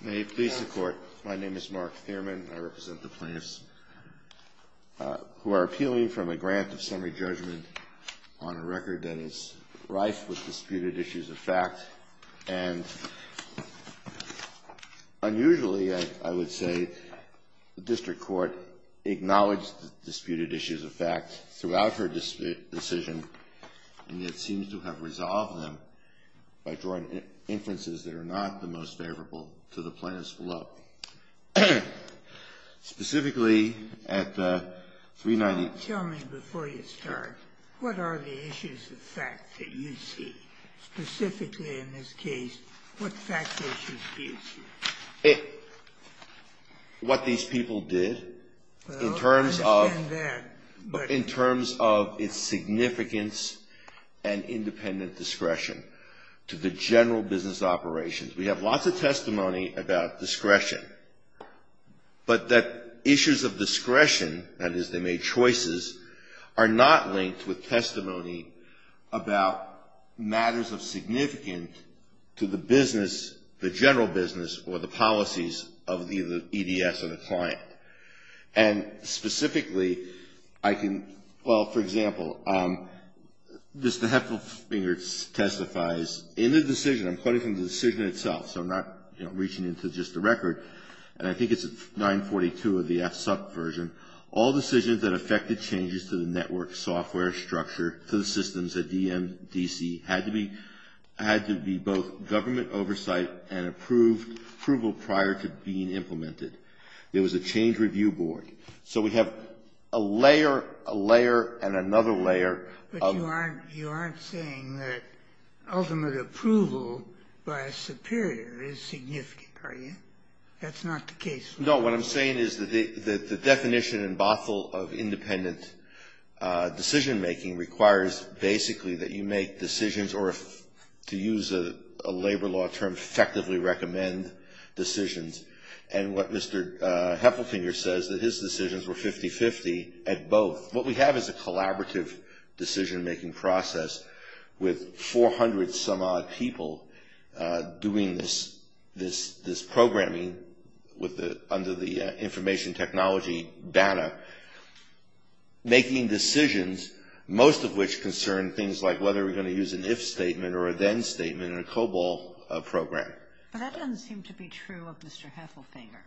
May it please the court, my name is Mark Thierman, I represent the plaintiffs, who are appealing from a grant of summary judgment on a record that is rife with disputed issues of fact, and unusually, I would say, the district court acknowledged the disputed issues of fact throughout her decision, and it seems to have resolved them by drawing inferences that are not the most favorable. to the plaintiffs below. Specifically, at the 390... Tell me before you start, what are the issues of fact that you see? Specifically, in this case, what fact issues do you see? What these people did in terms of... Well, I understand that, but... In terms of its significance and independent discretion to the general business operations. We have lots of testimony about discretion, but that issues of discretion, that is, they made choices, are not linked with testimony about matters of significance to the business, the general business or the business itself. And specifically, I can, well, for example, Mr. Heffelfinger testifies, in the decision, I'm quoting from the decision itself, so I'm not, you know, reaching into just the record, and I think it's 942 of the FSUP version. But you aren't saying that ultimate approval by a superior is significant, are you? That's not the case. No, what I'm saying is that the definition in Bothell of independent decision-making requires, basically, that you make decisions or, to use a labor law term, effectively recommend decisions. And what Mr. Heffelfinger says, that his decisions were 50-50 at both. What we have is a collaborative decision-making process with 400 some odd people doing this programming under the information technology banner, making decisions, most of which concern things like whether we're going to use an if statement or a then statement in a COBOL program. But that doesn't seem to be true of Mr. Heffelfinger,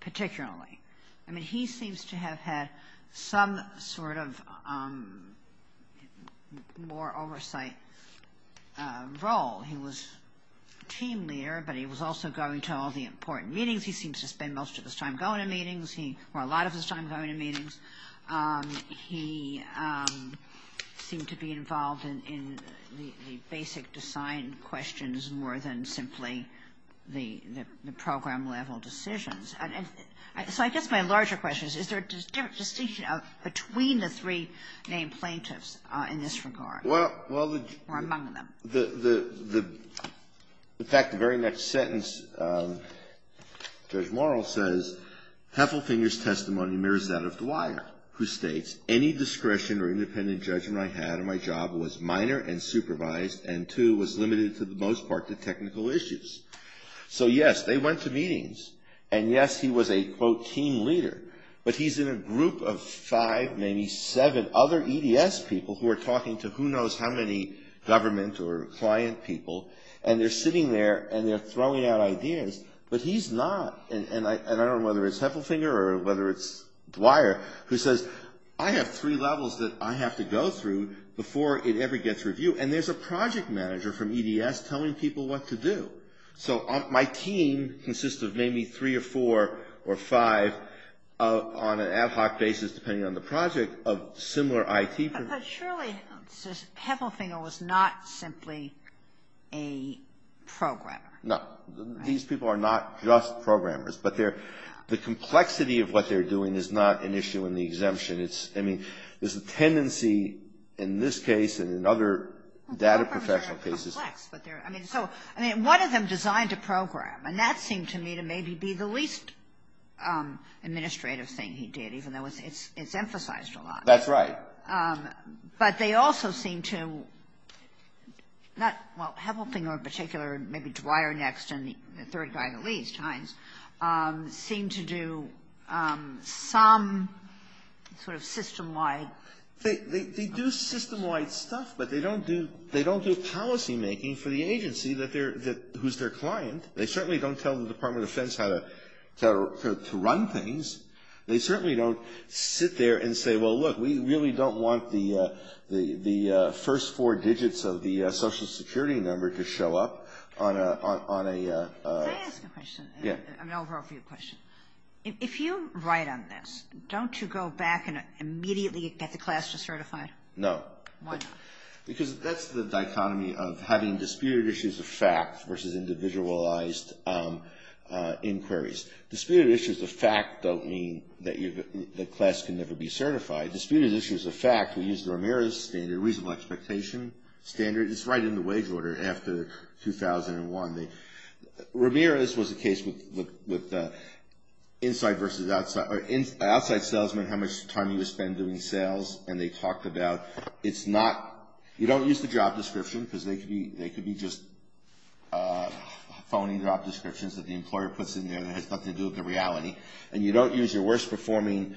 particularly. I mean, he seems to have had some sort of more oversight role. He was team leader, but he was also going to all the important meetings. He seems to spend most of his time going to meetings, or a lot of his time going to meetings. He seemed to be involved in the basic design questions more than simply the program-level decisions. So I guess my larger question is, is there a distinction between the three named plaintiffs in this regard? Or among them. In fact, the very next sentence, Judge Morrill says, Heffelfinger's testimony mirrors that of Dwyer, who states, any discretion or independent judgment I had on my job was minor and supervised and, too, was limited, for the most part, to technical issues. So yes, they went to meetings. And yes, he was a, quote, team leader. But he's in a group of five, maybe seven other EDS people who are talking to who knows how many government or client people. And they're sitting there and they're throwing out ideas. But he's not. And I don't know whether it's Heffelfinger or whether it's Dwyer who says, I have three levels that I have to go through before it ever gets reviewed. And there's a project manager from EDS telling people what to do. So my team consists of maybe three or four or five on an ad hoc basis, depending on the project, of similar IT people. But surely Heffelfinger was not simply a programmer. No. These people are not just programmers. But they're the complexity of what they're doing is not an issue in the exemption. It's, I mean, there's a tendency in this case and in other data professional cases. But they're, I mean, so, I mean, one of them designed a program. And that seemed to me to maybe be the least administrative thing he did, even though it's emphasized a lot. That's right. But they also seem to not, well, Heffelfinger in particular, maybe Dwyer next, and the third guy at least, Hines, seem to do some sort of system-wide. They do system-wide stuff, but they don't do policymaking for the agency that they're, who's their client. They certainly don't tell the Department of Defense how to run things. They certainly don't sit there and say, well, look, we really don't want the first four digits of the Social Security number to show up on a- Can I ask a question? Yeah. An overall view question. If you write on this, don't you go back and immediately get the class to certify? No. Why not? Because that's the dichotomy of having disputed issues of fact versus individualized inquiries. Disputed issues of fact don't mean that the class can never be certified. Disputed issues of fact, we use the Ramirez standard, reasonable expectation standard. It's right in the wage order after 2001. Ramirez was a case with inside versus outside, or outside salesmen, how much time you would spend doing sales, and they talked about, it's not, you don't use the job description, because they could be just phony job descriptions that the employer puts in there that has nothing to do with the reality. And you don't use your worst performing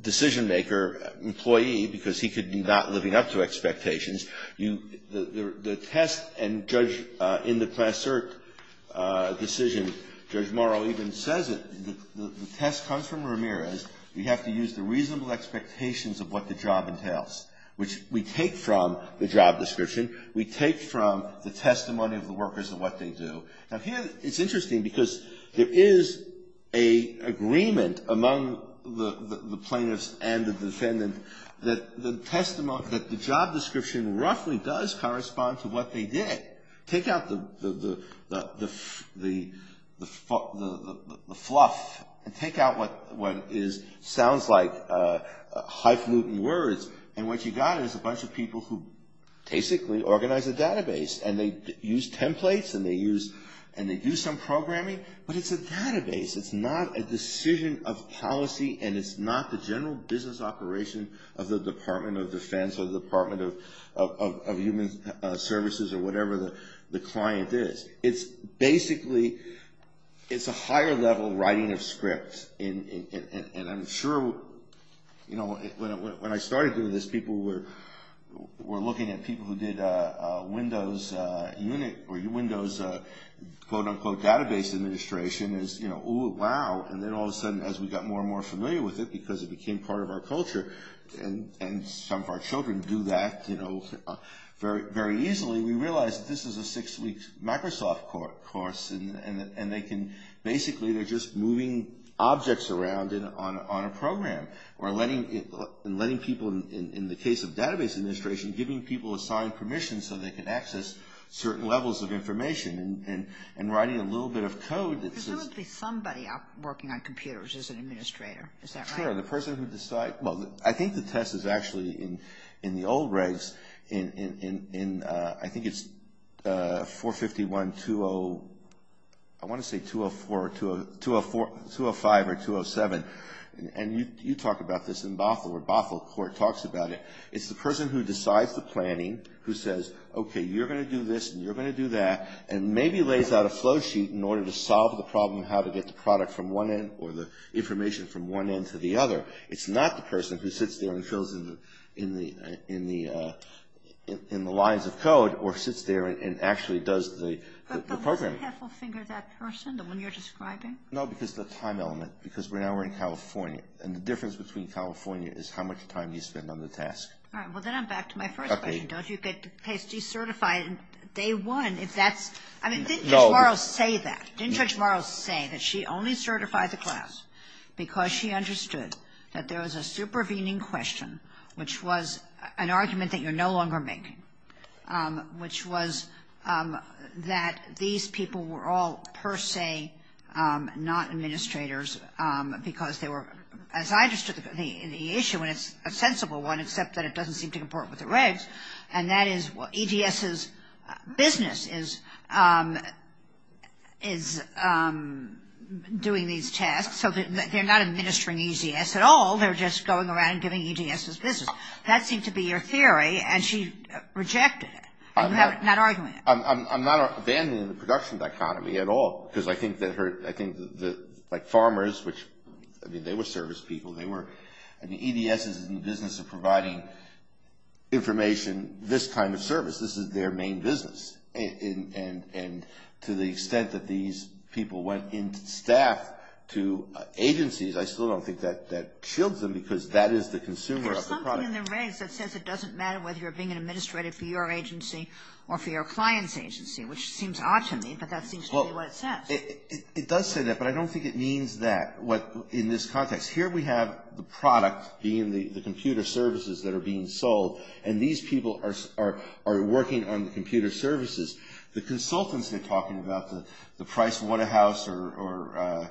decision-maker employee, because he could be not living up to expectations. The test in the class cert decision, Judge Morrow even says it, the test comes from Ramirez. You have to use the reasonable expectations of what the job entails, which we take from the job description. We take from the testimony of the workers and what they do. Now here, it's interesting, because there is an agreement among the plaintiffs and the defendant that the job description roughly does correspond to what they did. Take out the fluff, and take out what sounds like highfalutin words, and what you got is a bunch of people who basically organized a database. And they used templates, and they used some programming, but it's a database. It's not a decision of policy, and it's not the general business operation of the Department of Defense, or the Department of Human Services, or whatever the client is. It's basically, it's a higher level writing of scripts. And I'm sure, you know, when I started doing this, people were looking at people who did Windows Unit, or Windows quote-unquote database administration as, you know, ooh, wow. And then all of a sudden, as we got more and more familiar with it, because it became part of our culture, and some of our children do that, you know, very easily, we realized that this is a six-week Microsoft course, and they can basically, they're just moving objects around on a program, or letting people, in the case of database administration, giving people assigned permissions so they can access certain levels of information, and writing a little bit of code that says... Because there would be somebody out working on computers as an administrator. Is that right? Well, I think the test is actually, in the old regs, in, I think it's 451-20... I want to say 204, or 205, or 207. And you talk about this in Bothell, where Bothell Court talks about it. It's the person who decides the planning, who says, okay, you're going to do this, and you're going to do that, and maybe lays out a flow sheet in order to solve the problem of how to get the product from one end, or the information from one end to the other. It's not the person who sits there and fills in the lines of code, or sits there and actually does the programming. But wasn't Heffelfinger that person, the one you're describing? No, because of the time element, because now we're in California, and the difference between California is how much time you spend on the task. All right, well, then I'm back to my first question. Okay. I mean, didn't Judge Morrow say that? Didn't Judge Morrow say that she only certified the class because she understood that there was a supervening question, which was an argument that you're no longer making, which was that these people were all per se not administrators, because they were, as I understood the issue, and it's a sensible one, except that it doesn't seem to comport with the regs, and that is what EGS's business is doing these tasks. So they're not administering EGS at all. They're just going around and giving EGS's business. That seemed to be your theory, and she rejected it. I'm not arguing that. I'm not abandoning the production dichotomy at all, because I think that, like, farmers, which, I mean, they were service people. They were, and EGS is in the business of providing information, this kind of service. This is their main business, and to the extent that these people went in staff to agencies, I still don't think that shields them, because that is the consumer of the product. There's something in the regs that says it doesn't matter whether you're being an administrator for your agency or for your client's agency, which seems odd to me, but that seems to be what it says. It does say that, but I don't think it means that. Here we have the product being the computer services that are being sold, and these people are working on the computer services. The consultants they're talking about, the Price Waterhouse or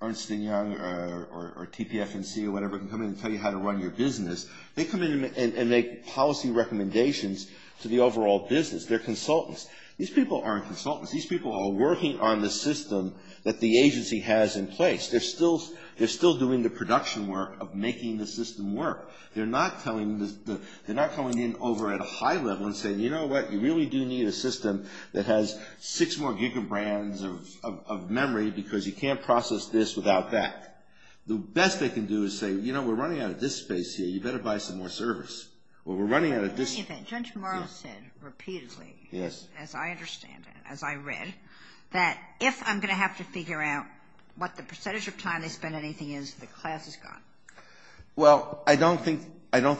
Ernst & Young or TPF&C or whatever, can come in and tell you how to run your business. They come in and make policy recommendations to the overall business. They're consultants. These people aren't consultants. These people are working on the system that the agency has in place. They're still doing the production work of making the system work. They're not coming in over at a high level and saying, you know what, you really do need a system that has six more giga brands of memory, because you can't process this without that. The best they can do is say, you know, we're running out of disk space here. You better buy some more service. Well, we're running out of disk space. Well, I don't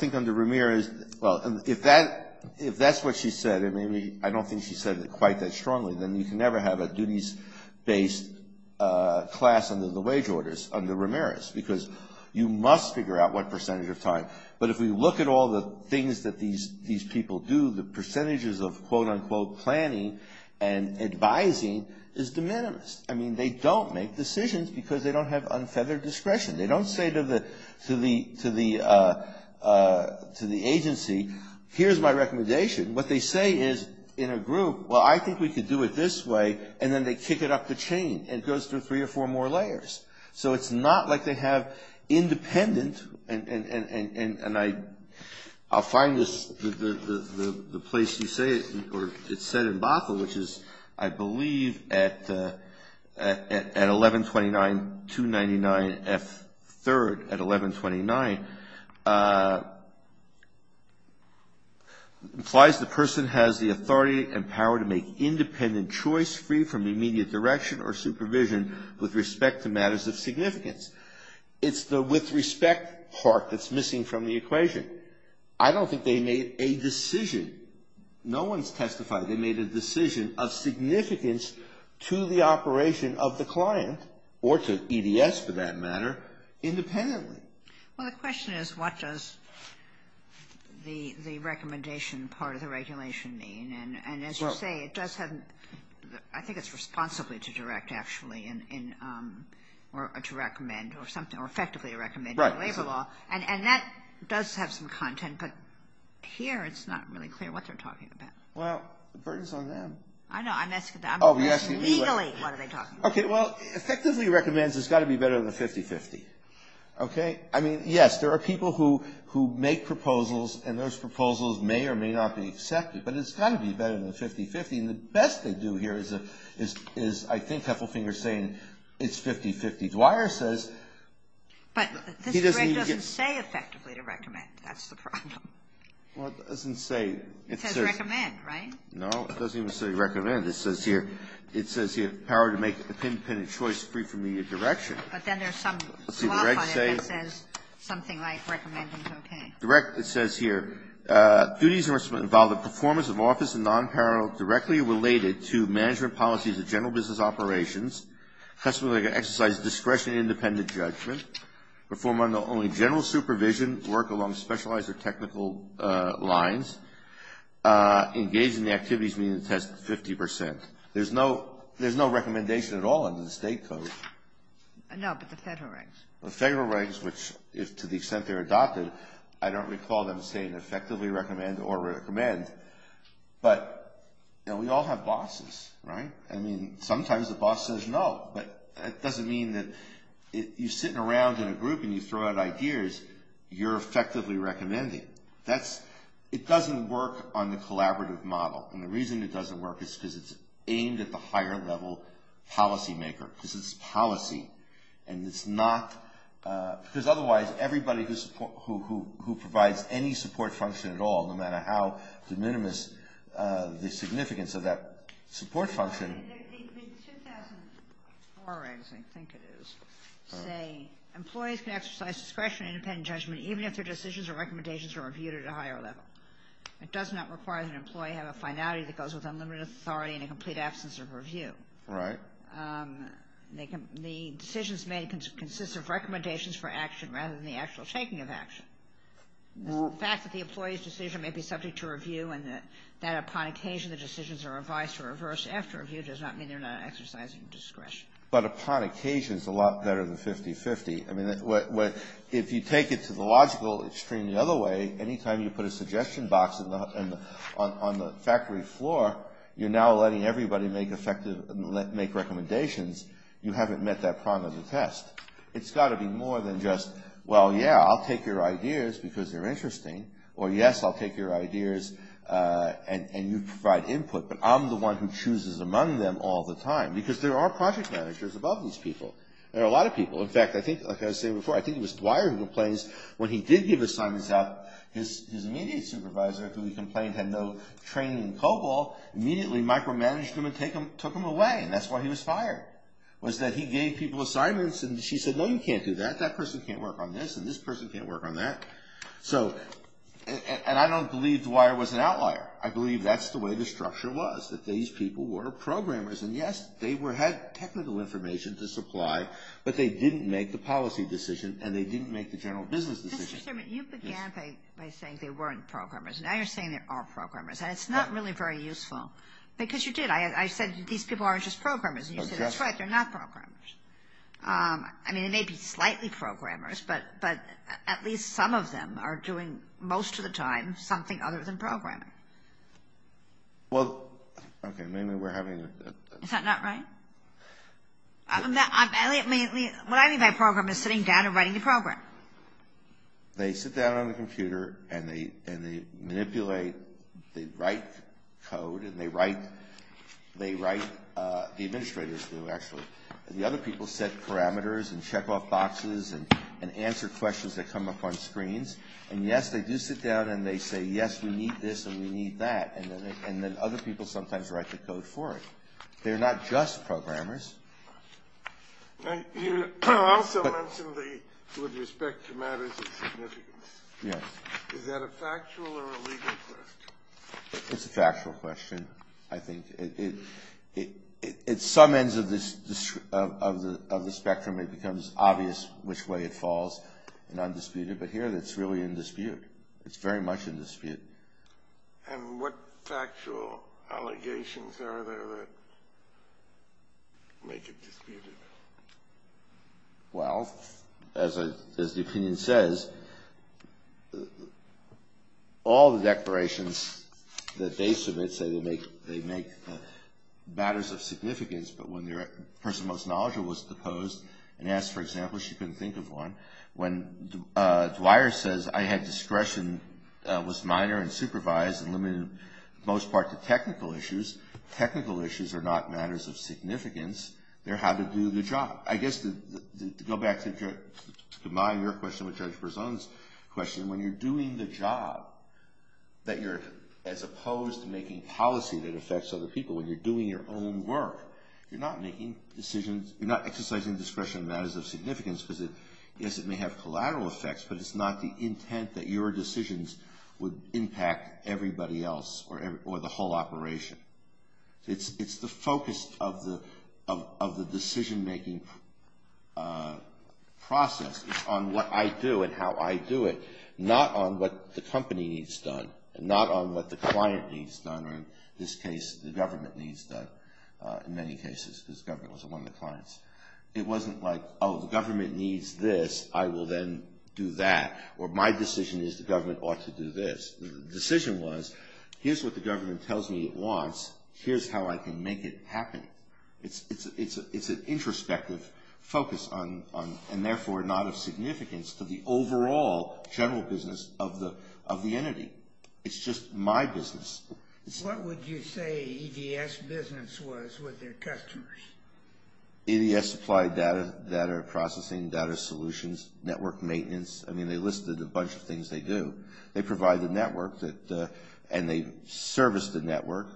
think under Ramirez, well, if that's what she said, and maybe I don't think she said it quite that strongly, then you can never have a duties-based class under the wage orders under Ramirez, because you must figure out what percentage of time. But if we look at all the things that these people do, the percentages of, quote, unquote, planning and advising is de minimis. I mean, they don't make decisions because they don't have unfeathered discretion. They don't say to the agency, here's my recommendation. What they say is, in a group, well, I think we could do it this way, and then they kick it up the chain. It goes through three or four more layers. So it's not like they have independent, and I'll find the place you say it, or it's said in Bothell, which is, I believe, at 1129-299-F3rd, at 1129, implies the person has the authority and power to make independent choice free from immediate direction or supervision with respect to matters of significance. It's the with respect part that's missing from the equation. I don't think they made a decision. No one's testified they made a decision of significance to the operation of the client or to EDS, for that matter, independently. Well, the question is, what does the recommendation part of the regulation mean? And as you say, it does have, I think it's responsibly to direct, actually, or to recommend or something, or effectively recommend a labor law. Right. And that does have some content, but here it's not really clear what they're talking about. Well, the burden's on them. I know. Legally, what are they talking about? Okay, well, effectively recommends has got to be better than 50-50. Okay? I mean, yes, there are people who make proposals, and those proposals may or may not be accepted, but it's got to be better than 50-50, and the best they do here is, I think, it's 50-50. Dwyer says he doesn't even get to say effectively to recommend. That's the problem. Well, it doesn't say. It says recommend, right? No, it doesn't even say recommend. It says here, it says here, power to make an independent choice free from media direction. But then there's some slop on it that says something like recommend is okay. It says here, duties and responsibilities involve the performance of office and non-parole directly related to management policies of general business operations, customary exercise discretionary independent judgment, perform only general supervision work along specialized or technical lines, engage in the activities meeting the test 50%. There's no recommendation at all under the state code. No, but the federal regs. The federal regs, which, to the extent they're adopted, I don't recall them saying effectively recommend or recommend. But, you know, we all have bosses, right? I mean, sometimes the boss says no, but that doesn't mean that you're sitting around in a group and you throw out ideas, you're effectively recommending. That's, it doesn't work on the collaborative model. And the reason it doesn't work is because it's aimed at the higher level policymaker. Because it's policy and it's not, because otherwise everybody who provides any support function at all, no matter how de minimis the significance of that support function. The 2004 regs, I think it is, say, employees can exercise discretionary independent judgment even if their decisions or recommendations are reviewed at a higher level. It does not require that an employee have a finality that goes with unlimited authority and a complete absence of review. Right. The decisions made consist of recommendations for action rather than the actual shaking of action. The fact that the employee's decision may be subject to review and that upon occasion the decisions are revised or reversed after review does not mean they're not exercising discretion. But upon occasion is a lot better than 50-50. I mean, if you take it to the logical extreme the other way, any time you put a suggestion box on the factory floor, you're now letting everybody make effective, make recommendations. You haven't met that prong of the test. It's got to be more than just, well, yeah, I'll take your ideas because they're interesting or, yes, I'll take your ideas and you provide input, but I'm the one who chooses among them all the time because there are project managers above these people. There are a lot of people. In fact, I think, like I was saying before, I think it was Dwyer who complains when he did give assignments out, his immediate supervisor, who he complained had no training in COBOL, immediately micromanaged him and took him away. And that's why he was fired was that he gave people assignments and she said, no, you can't do that. That person can't work on this and this person can't work on that. So, and I don't believe Dwyer was an outlier. I believe that's the way the structure was, that these people were programmers. And, yes, they had technical information to supply, but they didn't make the policy decision and they didn't make the general business decision. Mr. Sherman, you began by saying they weren't programmers. Now you're saying they are programmers. And it's not really very useful because you did. I said these people aren't just programmers. And you said, that's right, they're not programmers. I mean, they may be slightly programmers, but at least some of them are doing, most of the time, something other than programming. Well, okay, maybe we're having a... Is that not right? What I mean by program is sitting down and writing a program. They sit down on the computer and they manipulate, they write code and they write the administrators do, actually. The other people set parameters and check off boxes and answer questions that come up on screens. And, yes, they do sit down and they say, yes, we need this and we need that. And then other people sometimes write the code for it. They're not just programmers. You also mentioned with respect to matters of significance. Yes. Is that a factual or a legal question? It's a factual question, I think. At some ends of the spectrum it becomes obvious which way it falls in undisputed, but here it's really in dispute. It's very much in dispute. And what factual allegations are there that make it disputed? Well, as the opinion says, all the declarations that they submit say they make matters of significance, but when the person most knowledgeable was deposed and asked for examples, she couldn't think of one. When Dwyer says I had discretion, was minor and supervised and limited in most part to technical issues, I guess to combine your question with Judge Berzon's question, when you're doing the job that you're, as opposed to making policy that affects other people, when you're doing your own work, you're not exercising discretion in matters of significance because, yes, it may have collateral effects, but it's not the intent that your decisions would impact everybody else or the whole operation. It's the focus of the decision-making process on what I do and how I do it, not on what the company needs done, not on what the client needs done, or in this case, the government needs done, in many cases, because government was one of the clients. It wasn't like, oh, the government needs this, I will then do that, or my decision is the government ought to do this. The decision was, here's what the government tells me it wants, here's how I can make it happen. It's an introspective focus on, and therefore, not of significance to the overall general business of the entity. It's just my business. What would you say EDS business was with their customers? EDS supplied data processing, data solutions, network maintenance. I mean, they listed a bunch of things they do. They provide the network, and they service the network.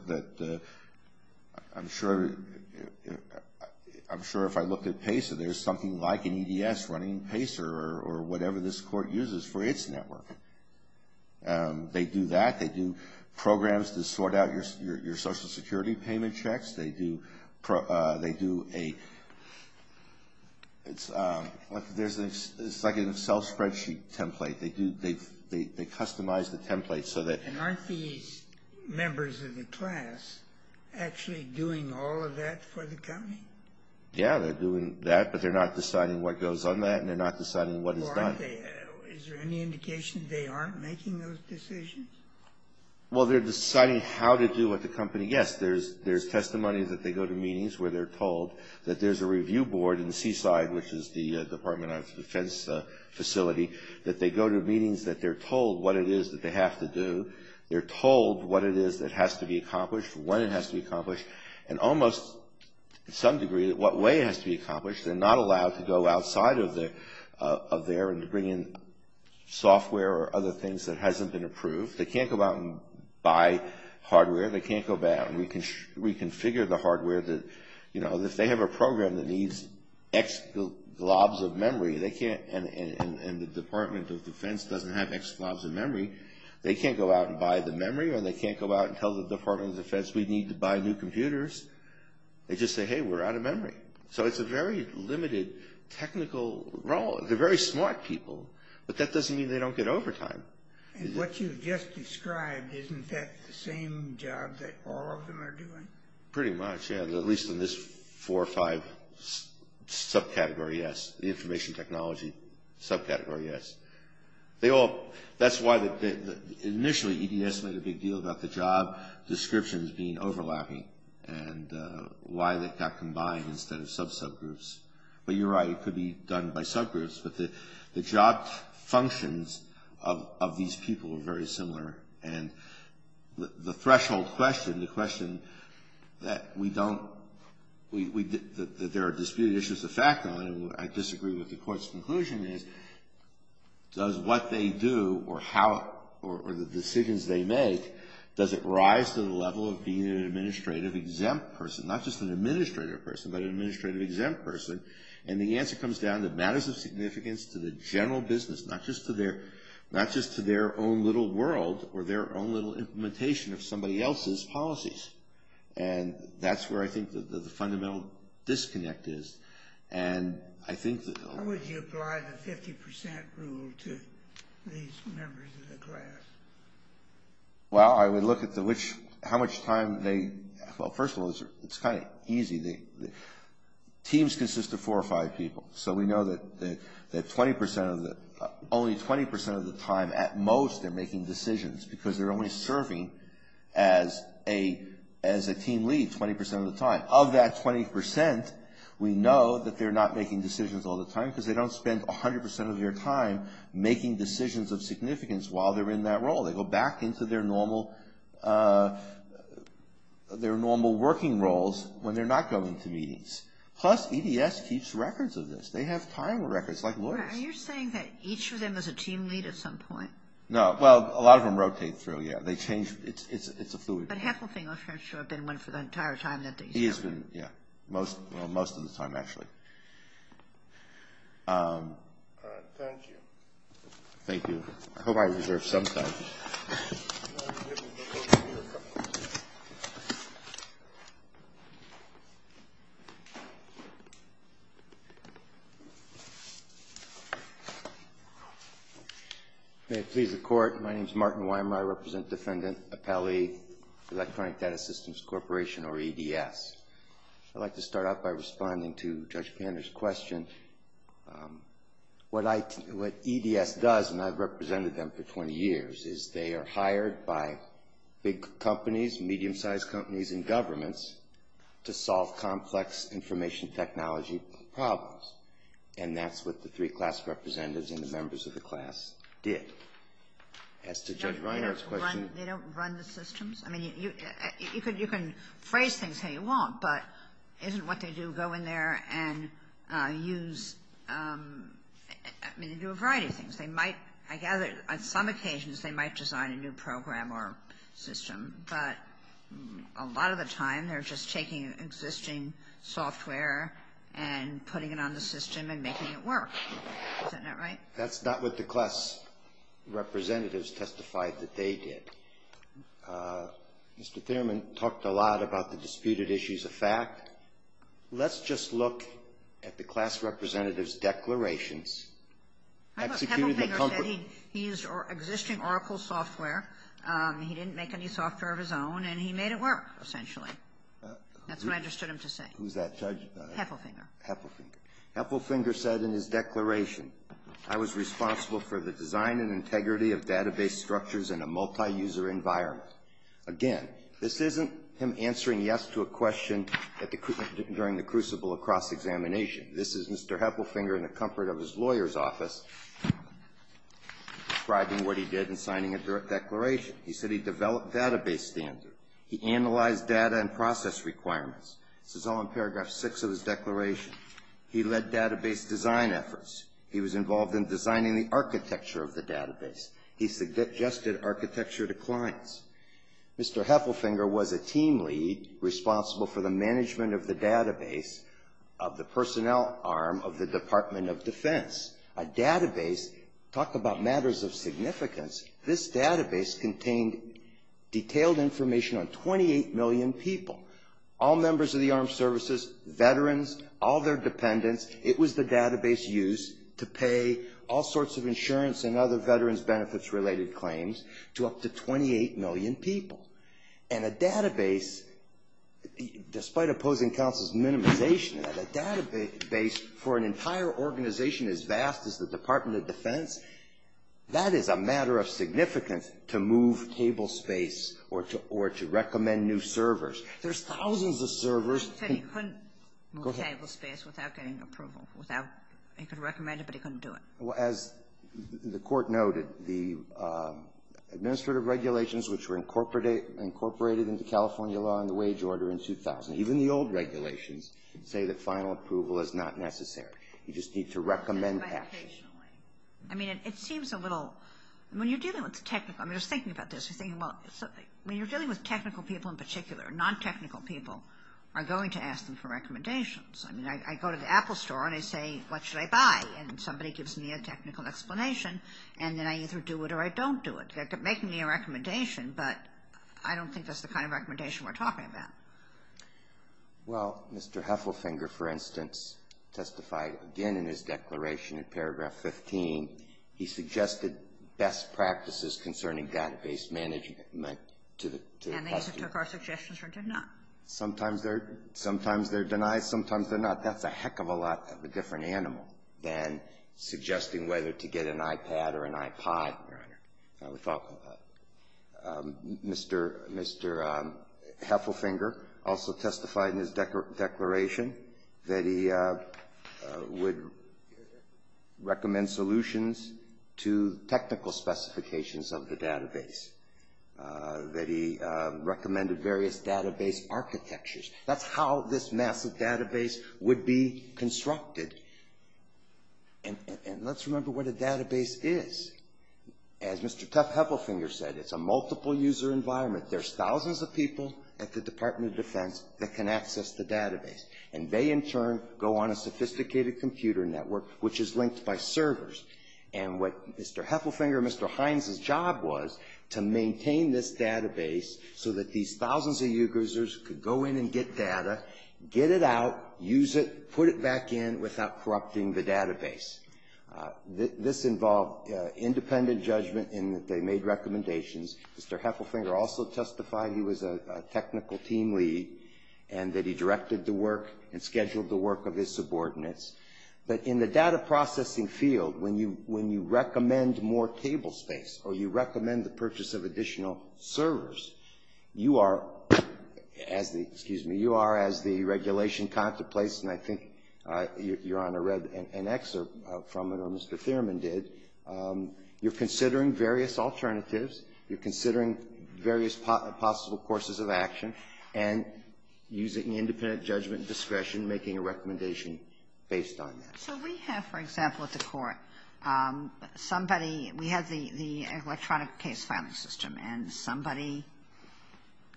I'm sure if I looked at PACER, there's something like an EDS running PACER or whatever this court uses for its network. They do that. They do programs to sort out your Social Security payment checks. They do a – it's like a self-spreadsheet template. They customize the template so that – And aren't these members of the class actually doing all of that for the company? Yeah, they're doing that, but they're not deciding what goes on that, and they're not deciding what is done. Is there any indication they aren't making those decisions? Well, they're deciding how to do what the company – yes, there's testimony that they go to meetings where they're told that there's a review board in Seaside, which is the Department of Defense facility, that they go to meetings that they're told what it is that they have to do. They're told what it is that has to be accomplished, when it has to be accomplished, and almost to some degree what way it has to be accomplished. They're not allowed to go outside of there and to bring in software or other things that hasn't been approved. They can't go out and buy hardware. They can't go back and reconfigure the hardware that – and the Department of Defense doesn't have extra globs of memory. They can't go out and buy the memory, or they can't go out and tell the Department of Defense we need to buy new computers. They just say, hey, we're out of memory. So it's a very limited technical role. They're very smart people, but that doesn't mean they don't get overtime. And what you've just described, isn't that the same job that all of them are doing? Pretty much, yeah, at least in this four or five subcategory, yes. The information technology subcategory, yes. They all – that's why initially EDS made a big deal about the job descriptions being overlapping and why they got combined instead of sub-subgroups. But you're right, it could be done by subgroups, but the job functions of these people are very similar. And the threshold question, the question that we don't – that there are disputed issues of fact on, and I disagree with the court's conclusion is, does what they do or how – or the decisions they make, does it rise to the level of being an administrative exempt person? Not just an administrative person, but an administrative exempt person. And the answer comes down to matters of significance to the general business, not just to their own little world or their own little implementation of somebody else's policies. And that's where I think the fundamental disconnect is. And I think that – How would you apply the 50% rule to these members of the class? Well, I would look at the which – how much time they – well, first of all, it's kind of easy. Teams consist of four or five people, so we know that 20% of the – only 20% of the time at most they're making decisions because they're only serving as a team lead 20% of the time. Of that 20%, we know that they're not making decisions all the time because they don't spend 100% of their time making decisions of significance while they're in that role. They go back into their normal working roles when they're not going to meetings. Plus, EDS keeps records of this. They have time records, like lawyers. Are you saying that each of them is a team lead at some point? No. Well, a lot of them rotate through, yeah. They change – it's a fluid – But Heffelfinger, for sure, has been one for the entire time that they serve. He has been, yeah, most of the time, actually. All right. Thank you. Thank you. I hope I reserved some time. I'm going to give him the microphone. May it please the Court. My name is Martin Weimer. I represent Defendant Appelli, Electronic Data Systems Corporation, or EDS. I'd like to start out by responding to Judge Pander's question. What EDS does, and I've represented them for 20 years, is they are hired by big companies, medium-sized companies, and governments to solve complex information technology problems. And that's what the three class representatives and the members of the class did. As to Judge Reinhardt's question – They don't run the systems? I mean, you can phrase things how you want, but isn't what they do go in there and use – I mean, they do a variety of things. They might – I gather on some occasions they might design a new program or system, but a lot of the time they're just taking existing software and putting it on the system and making it work. Isn't that right? That's not what the class representatives testified that they did. Mr. Thierman talked a lot about the disputed issues of fact. Let's just look at the class representative's declarations. Executed the – Heffelfinger said he used existing Oracle software. He didn't make any software of his own, and he made it work, essentially. That's what I understood him to say. Who's that judge? Heffelfinger. Heffelfinger. Heffelfinger said in his declaration, I was responsible for the design and integrity of database structures in a multi-user environment. Again, this isn't him answering yes to a question during the crucible of cross-examination. This is Mr. Heffelfinger in the comfort of his lawyer's office describing what he did in signing a declaration. He said he developed database standards. He analyzed data and process requirements. This is all in paragraph 6 of his declaration. He led database design efforts. He was involved in designing the architecture of the database. He suggested architecture to clients. Mr. Heffelfinger was a team lead responsible for the management of the database of the personnel arm of the Department of Defense. A database – talk about matters of significance. This database contained detailed information on 28 million people, all members of the armed services, veterans, all their dependents. It was the database used to pay all sorts of insurance and other veterans benefits related claims to up to 28 million people. And a database, despite opposing counsel's minimization of that, a database for an entire organization as vast as the Department of Defense, that is a matter of significance to move table space or to recommend new servers. There's thousands of servers. Go ahead. He said he couldn't move table space without getting approval, without – he could recommend it, but he couldn't do it. Well, as the Court noted, the administrative regulations, which were incorporated into California law in the wage order in 2000, even the old regulations say that final approval is not necessary. You just need to recommend actions. I mean, it seems a little – when you're dealing with technical – I mean, I was thinking about this. When you're dealing with technical people in particular, non-technical people are going to ask them for recommendations. I mean, I go to the Apple store and I say, what should I buy? And somebody gives me a technical explanation, and then I either do it or I don't do it. They're making me a recommendation, but I don't think that's the kind of recommendation we're talking about. Well, Mr. Heffelfinger, for instance, testified again in his declaration in paragraph 15. He suggested best practices concerning database management to the customers. And they also took our suggestions or did not. Sometimes they're – sometimes they're denied, sometimes they're not. That's a heck of a lot of a different animal than suggesting whether to get an iPad or an iPod, Your Honor. We thought about it. Mr. Heffelfinger also testified in his declaration that he would recommend solutions to technical specifications of the database, that he recommended various database architectures. That's how this massive database would be constructed. And let's remember what a database is. As Mr. Tuft Heffelfinger said, it's a multiple-user environment. There's thousands of people at the Department of Defense that can access the database. And they, in turn, go on a sophisticated computer network, which is linked by servers. And what Mr. Heffelfinger and Mr. Hines' job was to maintain this database so that these thousands of users could go in and get data, get it out, use it, put it back in, without corrupting the database. This involved independent judgment in that they made recommendations. Mr. Heffelfinger also testified he was a technical team lead and that he directed the work and scheduled the work of his subordinates. But in the data processing field, when you recommend more table space or you recommend the purchase of additional servers, you are, as the, excuse me, you are, as the regulation contemplates, and I think Your Honor read an excerpt from it, or Mr. Thierman did, you're considering various alternatives, you're considering various possible courses of action, and using independent judgment and discretion, making a recommendation based on that. So we have, for example, at the court, somebody, we have the electronic case filing system, and somebody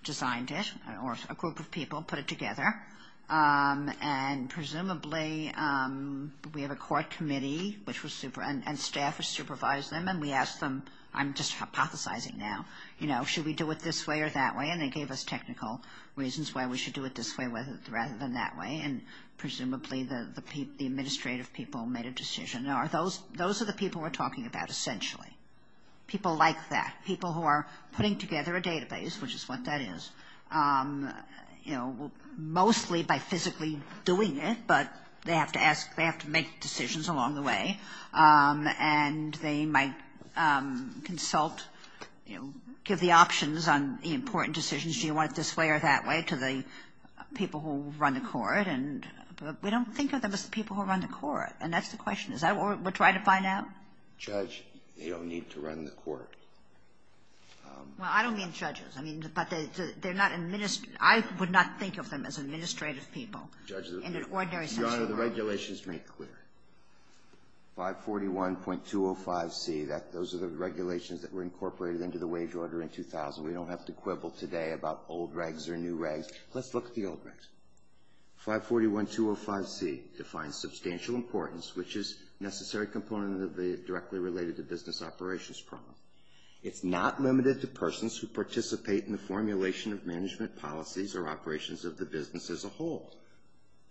designed it, or a group of people put it together, and presumably we have a court committee, and staff has supervised them, and we asked them, I'm just hypothesizing now, you know, should we do it this way or that way, and they gave us technical reasons why we should do it this way rather than that way, and presumably the administrative people made a decision. Those are the people we're talking about essentially, people like that, people who are putting together a database, which is what that is, you know, mostly by physically doing it, but they have to ask, they have to make decisions along the way, and they might consult, you know, give the options on the important decisions, do you want it this way or that way, to the people who run the court, and we don't think of them as the people who run the court, and that's the question. Is that what we're trying to find out? Breyer. Judge, they don't need to run the court. Well, I don't mean judges. I mean, but they're not administrative. I would not think of them as administrative people in an ordinary sense of the word. Your Honor, the regulations make clear. 541.205c, those are the regulations that were incorporated into the wage order in 2000. We don't have to quibble today about old regs or new regs. Let's look at the old regs. 541.205c defines substantial importance, which is necessary component of the directly related to business operations problem. It's not limited to persons who participate in the formulation of management policies or operations of the business as a whole.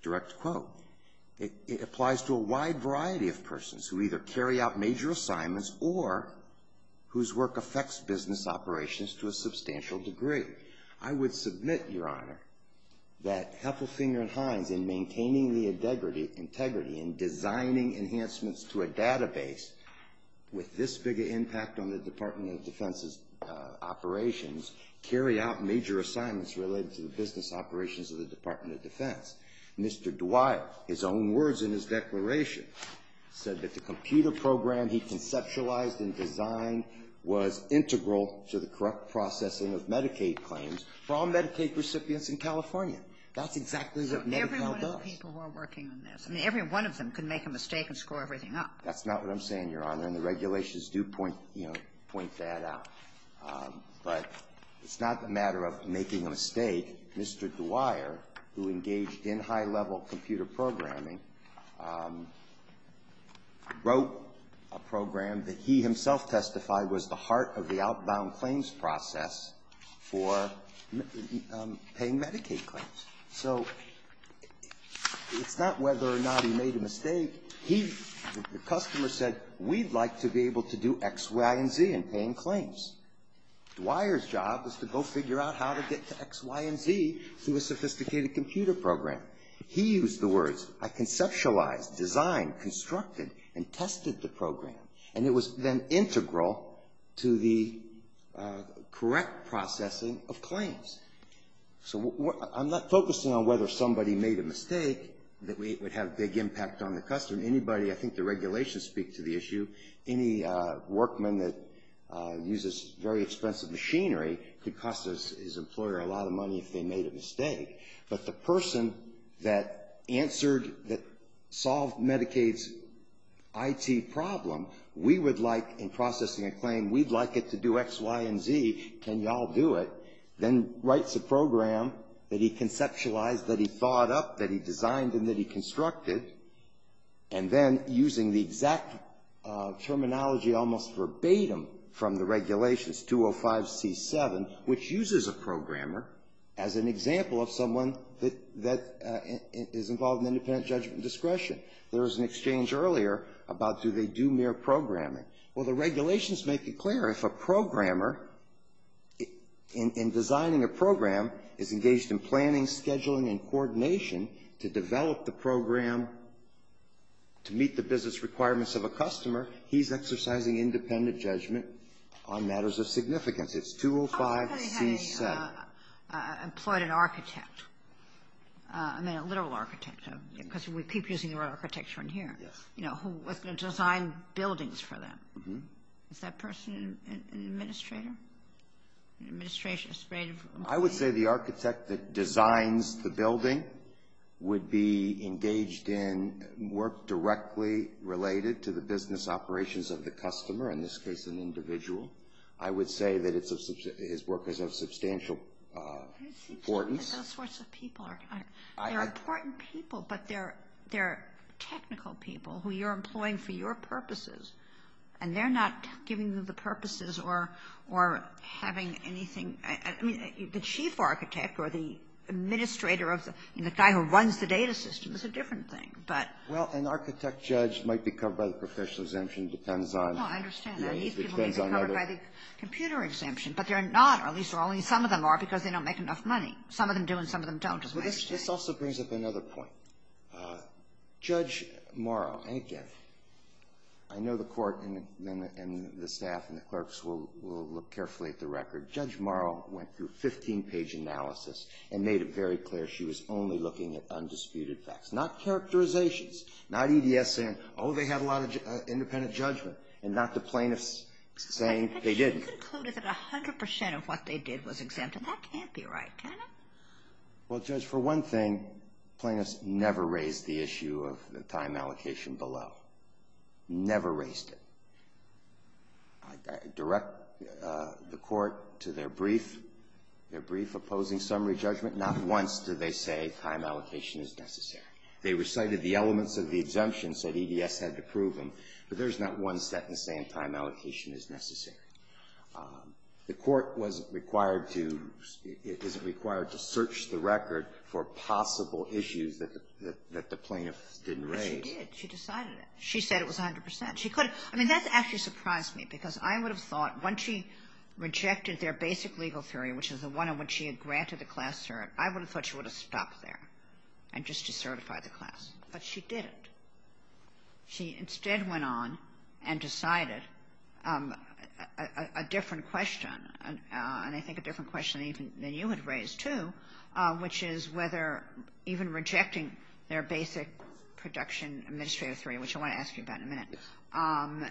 Direct quote. It applies to a wide variety of persons who either carry out major assignments or whose work affects business operations to a substantial degree. I would submit, Your Honor, that Heffelfinger and Hines, in maintaining the integrity in designing enhancements to a database with this big an impact on the Department of Defense's operations, carry out major assignments related to the business operations of the Department of Defense. Mr. Dwyer, his own words in his declaration, said that the computer program he conceptualized and designed was integral to the correct processing of Medicaid claims for all Medicaid recipients in California. That's exactly what MediCal does. So every one of the people who are working on this, I mean, every one of them can make a mistake and screw everything up. That's not what I'm saying, Your Honor. And the regulations do point, you know, point that out. But it's not a matter of making a mistake. Mr. Dwyer, who engaged in high-level computer programming, wrote a program that he himself testified was the heart of the outbound claims process for paying Medicaid claims. So it's not whether or not he made a mistake. He, the customer, said, we'd like to be able to do X, Y, and Z in paying claims. Dwyer's job is to go figure out how to get to X, Y, and Z through a sophisticated computer program. He used the words, I conceptualized, designed, constructed, and tested the program. And it was then integral to the correct processing of claims. So I'm not focusing on whether somebody made a mistake that would have a big impact on the customer. Anybody, I think the regulations speak to the issue. Any workman that uses very expensive machinery but the person that answered, that solved Medicaid's IT problem, we would like in processing a claim, we'd like it to do X, Y, and Z. Can y'all do it? Then writes a program that he conceptualized, that he thought up, that he designed, and that he constructed. And then using the exact terminology almost verbatim from the regulations, 205C7, which uses a programmer as an example of someone that is involved in independent judgment discretion. There was an exchange earlier about do they do mere programming. Well, the regulations make it clear if a programmer in designing a program is engaged in planning, scheduling, and coordination to develop the program to meet the business requirements of a customer, he's exercising independent judgment on matters of significance. It's 205C7. How could they have employed an architect? I mean, a literal architect, because we keep using the word architecture in here. Yes. You know, who was going to design buildings for them. Mm-hmm. Is that person an administrator? An administrative employee? I would say the architect that designs the building would be engaged in work directly related to the business operations of the customer, in this case an individual. I would say that his work is of substantial importance. It seems to me that those sorts of people are important people, but they're technical people who you're employing for your purposes, and they're not giving you the purposes or having anything. I mean, the chief architect or the administrator, the guy who runs the data system is a different thing. Well, an architect judge might be covered by the professional exemption. No, I understand that. These people might be covered by the computer exemption, but they're not, or at least only some of them are because they don't make enough money. Some of them do and some of them don't. This also brings up another point. Judge Morrow, and again, I know the court and the staff and the clerks will look carefully at the record. Judge Morrow went through a 15-page analysis and made it very clear she was only looking at undisputed facts, not characterizations, not EDS saying, oh, they have a lot of independent judgment, and not the plaintiffs saying they didn't. But she concluded that 100% of what they did was exempt, and that can't be right, can it? Well, Judge, for one thing, plaintiffs never raise the issue of the time allocation below. Never raised it. I direct the court to their brief opposing summary judgment. Not once do they say time allocation is necessary. They recited the elements of the exemption, said EDS had to prove them, but there's not one sentence saying time allocation is necessary. The court wasn't required to, isn't required to search the record for possible issues that the plaintiffs didn't raise. But she did. She decided it. She said it was 100%. She could have, I mean, that actually surprised me because I would have thought once she rejected their basic legal theory, which is the one in which she had granted the class cert, I would have thought she would have stopped there just to certify the class. But she didn't. She instead went on and decided a different question, and I think a different question than you had raised, too, which is whether even rejecting their basic production administrative theory, which I want to ask you about in a minute,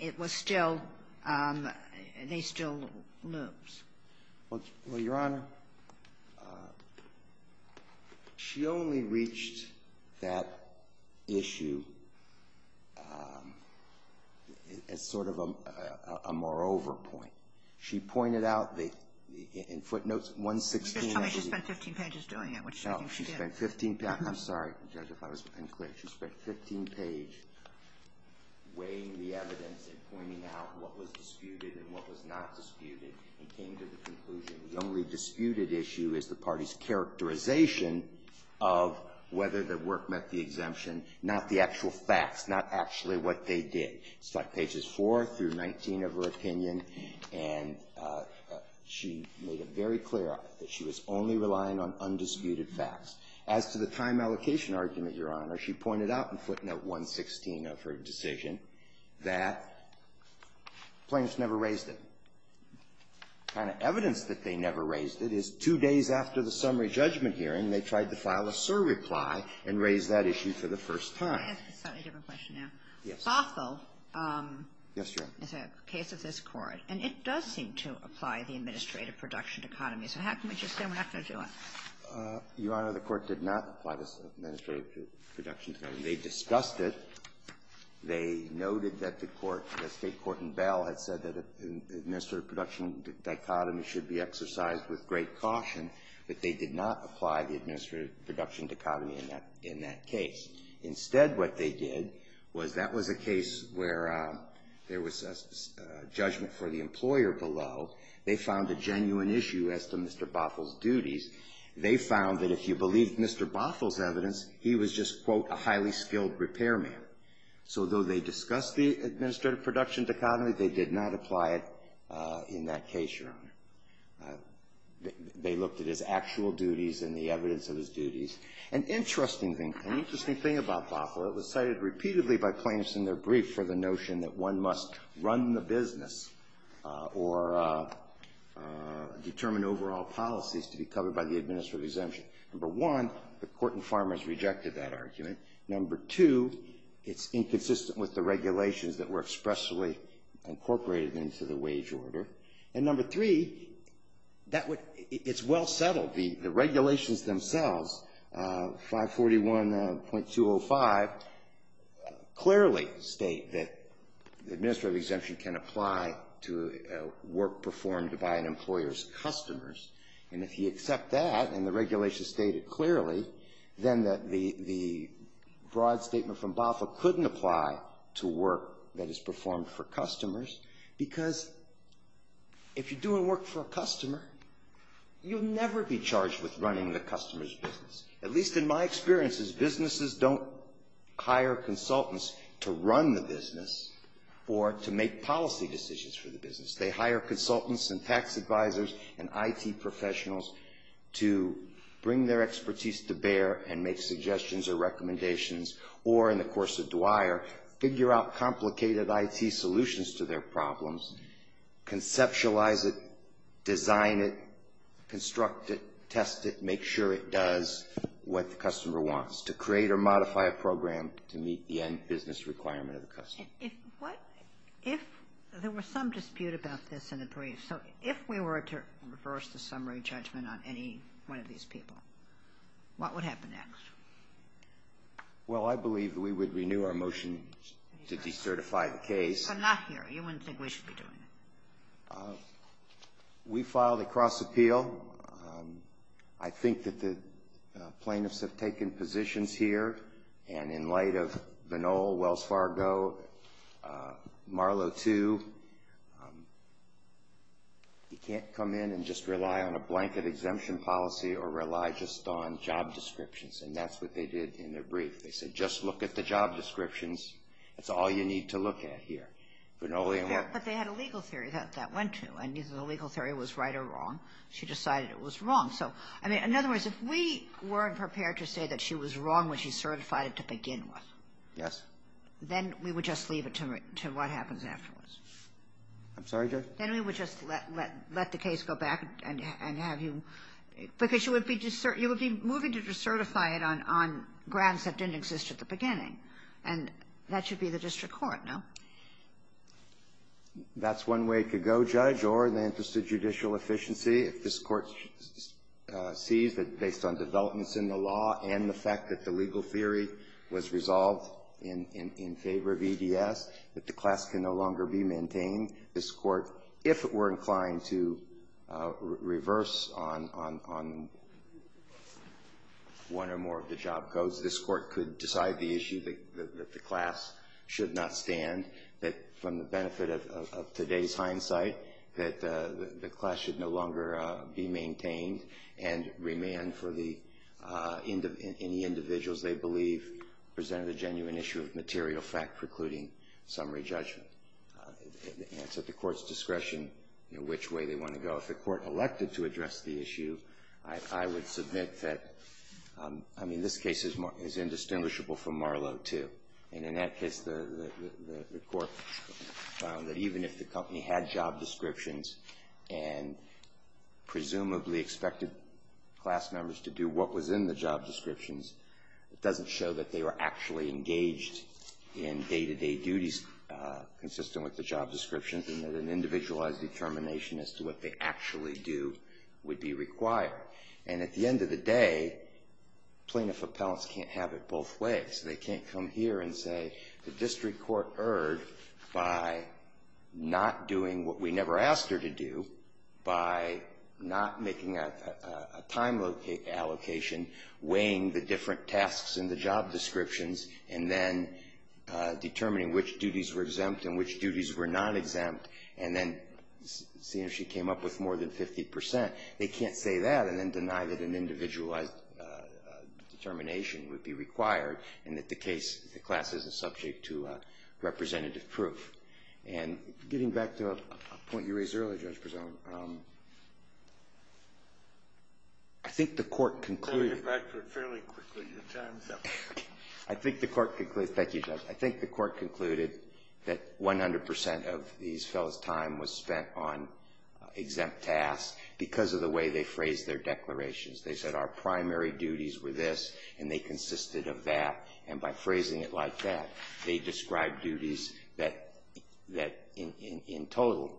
it was still, they still lose. Well, Your Honor, she only reached that issue as sort of a moreover point. She pointed out in footnotes 116. Just tell me she spent 15 pages doing it, which I think she did. Oh, she spent 15 pages. I'm sorry, Judge, if I was unclear. She spent 15 pages weighing the evidence and pointing out what was disputed and what was not disputed and came to the conclusion the only disputed issue is the party's characterization of whether the work met the exemption, not the actual facts, not actually what they did. It's like pages 4 through 19 of her opinion, and she made it very clear that she was only relying on undisputed facts. As to the time allocation argument, Your Honor, she pointed out in footnote 116 of her decision that plaintiffs never raised it. The kind of evidence that they never raised it is two days after the summary judgment hearing, they tried to file a surreply and raise that issue for the first time. Can I ask a slightly different question now? Yes. Bothell is a case of this Court, and it does seem to apply the administrative production economy. So how can we just say we're not going to do it? Your Honor, the Court did not apply this administrative production economy. They discussed it. They noted that the Court, the State court in Bell, had said that administrative production dichotomy should be exercised with great caution, but they did not apply the administrative production dichotomy in that case. Instead what they did was that was a case where there was a judgment for the employer below. They found a genuine issue as to Mr. Bothell's duties. They found that if you believed Mr. Bothell's evidence, he was just, quote, a highly skilled repairman. So though they discussed the administrative production dichotomy, they did not apply it in that case, Your Honor. They looked at his actual duties and the evidence of his duties. An interesting thing, an interesting thing about Bothell, it was cited repeatedly by plaintiffs in their brief for the notion that one must run the business or determine overall policies to be covered by the administrative exemption. Number one, the court in Farmers rejected that argument. Number two, it's inconsistent with the regulations that were expressly incorporated into the wage order. And number three, it's well settled. The regulations themselves, 541.205, clearly state that the administrative exemption can apply to work performed by an employer's customers. And if you accept that and the regulations state it clearly, then the broad statement from Bothell couldn't apply to work that is performed for customers, because if you're doing work for a customer, you'll never be charged with running the customer's business. At least in my experience, businesses don't hire consultants to run the business or to make policy decisions for the business. They hire consultants and tax advisors and IT professionals to bring their expertise to bear and make suggestions or recommendations or, in the course of Dwyer, figure out complicated IT solutions to their problems, conceptualize it, design it, construct it, test it, make sure it does what the customer wants, to create or modify a program to meet the end business requirement of the customer. If what? If there were some dispute about this in the brief, so if we were to reverse the summary judgment on any one of these people, what would happen next? Well, I believe we would renew our motion to decertify the case. Unless I'm not here, you wouldn't think we should be doing it. We filed a cross appeal. I think that the plaintiffs have taken positions here, and in light of Vanol, Wells Fargo, Marlowe II, you can't come in and just rely on a blanket exemption policy or rely just on job descriptions, and that's what they did in their brief. They said, just look at the job descriptions. That's all you need to look at here. But they had a legal theory that that went to, and the legal theory was right or wrong. She decided it was wrong. So, I mean, in other words, if we weren't prepared to say that she was wrong when she certified it to begin with, then we would just leave it to what happens afterwards. I'm sorry, Judge? Then we would just let the case go back and have you, And that should be the district court, no? That's one way it could go, Judge, or the interest of judicial efficiency. If this Court sees that based on developments in the law and the fact that the legal theory was resolved in favor of EDS, that the class can no longer be maintained, this Court, if it were inclined to reverse on one or more of the job codes, this should not stand, that from the benefit of today's hindsight, that the class should no longer be maintained and remand for any individuals they believe presented a genuine issue of material fact precluding summary judgment. It's at the Court's discretion which way they want to go. If the Court elected to address the issue, I would submit that, I mean, this case is indistinguishable from Marlowe too. And in that case, the Court found that even if the company had job descriptions and presumably expected class members to do what was in the job descriptions, it doesn't show that they were actually engaged in day-to-day duties consistent with the job descriptions and that an individualized determination as to what they actually do would be required. And at the end of the day, plaintiff appellants can't have it both ways. They can't come here and say the district court erred by not doing what we never asked her to do, by not making a time allocation, weighing the different tasks in the job descriptions, and then determining which duties were exempt and which duties were not exempt, and then seeing if she came up with more than 50%. They can't say that and then deny that an individualized determination would be required and that the case, the class, isn't subject to representative proof. And getting back to a point you raised earlier, Judge Prezone, I think the Court concluded I'll get back to it fairly quickly. Your time is up. I think the Court concluded, thank you, Judge. I think the Court concluded that 100 percent of these fellows' time was spent on exempt tasks because of the way they phrased their declarations. They said our primary duties were this, and they consisted of that. And by phrasing it like that, they described duties that in total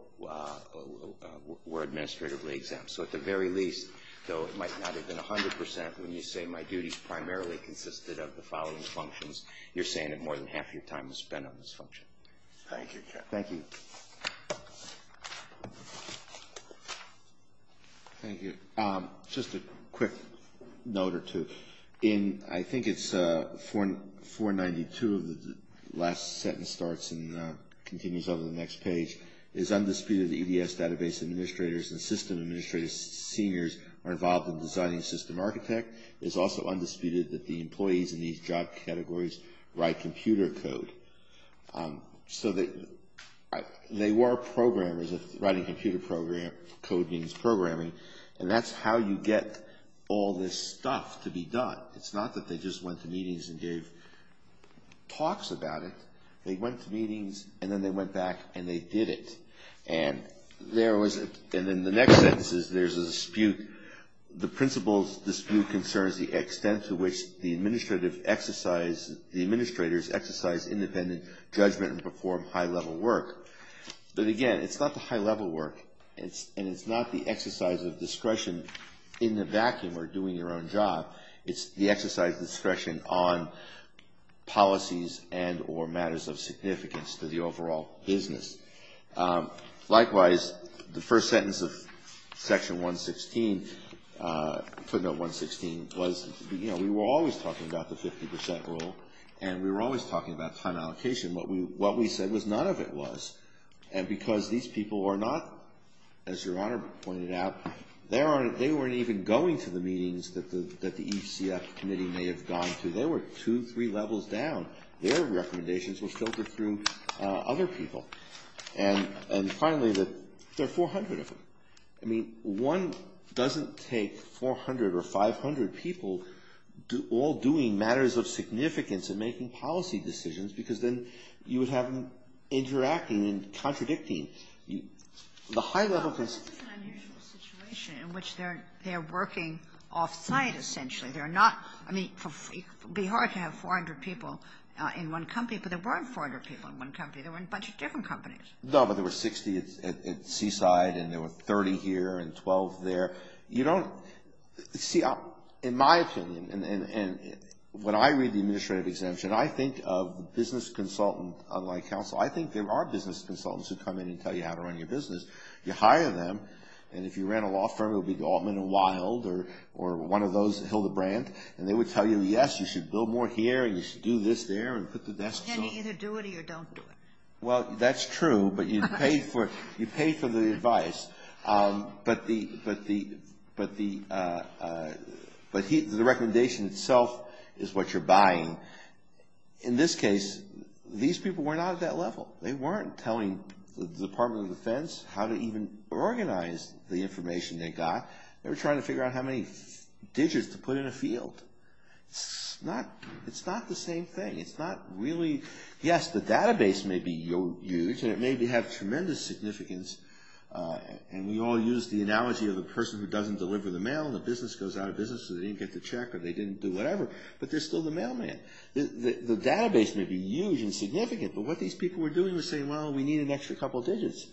were administratively exempt. So at the very least, though it might not have been 100 percent, when you say my duties primarily consisted of the following functions, you're saying that more than half your time was spent on this function. Thank you, Judge. Thank you. Thank you. Just a quick note or two. In, I think it's 492 of the last sentence starts and continues on to the next page, it is undisputed that EDS database administrators and system administrators seniors are involved in designing system architect. It is also undisputed that the employees in these job categories write computer code. So they were programmers, writing computer code means programming. And that's how you get all this stuff to be done. It's not that they just went to meetings and gave talks about it. They went to meetings and then they went back and they did it. And there was, and then the next sentence is there's a dispute. The principle dispute concerns the extent to which the administrative exercise, the independent judgment and perform high-level work. But again, it's not the high-level work and it's not the exercise of discretion in the vacuum or doing your own job. It's the exercise of discretion on policies and or matters of significance to the overall business. Likewise, the first sentence of section 116, footnote 116 was, you know, we were always talking about the 50% rule and we were always talking about time allocation. What we said was none of it was. And because these people are not, as Your Honor pointed out, they weren't even going to the meetings that the ECF committee may have gone to. They were two, three levels down. Their recommendations were filtered through other people. And finally, there are 400 of them. I mean, one doesn't take 400 or 500 people all doing matters of significance and making policy decisions because then you would have them interacting and contradicting. The high-level. It's an unusual situation in which they're working off-site essentially. They're not, I mean, it would be hard to have 400 people in one company, but there weren't 400 people in one company. There were a bunch of different companies. No, but there were 60 at Seaside and there were 30 here and 12 there. You don't, see, in my opinion, and when I read the administrative exemption, I think of business consultant, unlike counsel, I think there are business consultants who come in and tell you how to run your business. You hire them, and if you ran a law firm, it would be Altman and Wild or one of those, Hildebrandt, and they would tell you, yes, you should build more here and you should do this there and put the desks up. And you either do it or you don't do it. Well, that's true, but you pay for the advice. But the recommendation itself is what you're buying. In this case, these people were not at that level. They weren't telling the Department of Defense how to even organize the information they got. They were trying to figure out how many digits to put in a field. It's not the same thing. It's not really, yes, the database may be huge and it may have tremendous significance, and we all use the analogy of a person who doesn't deliver the mail and the business goes out of business or they didn't get the check or they didn't do whatever, but they're still the mailman. The database may be huge and significant, but what these people were doing was saying, well, we need an extra couple of digits.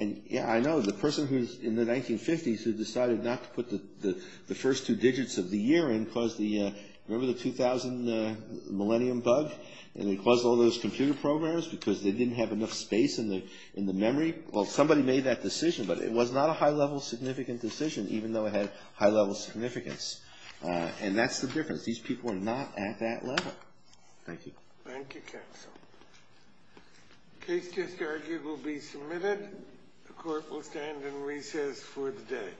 And, yeah, I know, the person who's in the 1950s who decided not to put the first two digits of the year in caused the, remember the 2000 millennium bug? And it caused all those computer programs because they didn't have enough space in the memory. Well, somebody made that decision, but it was not a high-level significant decision, even though it had high-level significance. And that's the difference. These people were not at that level. Thank you. Thank you, counsel. The case just argued will be submitted. The court will stand and recess for the day.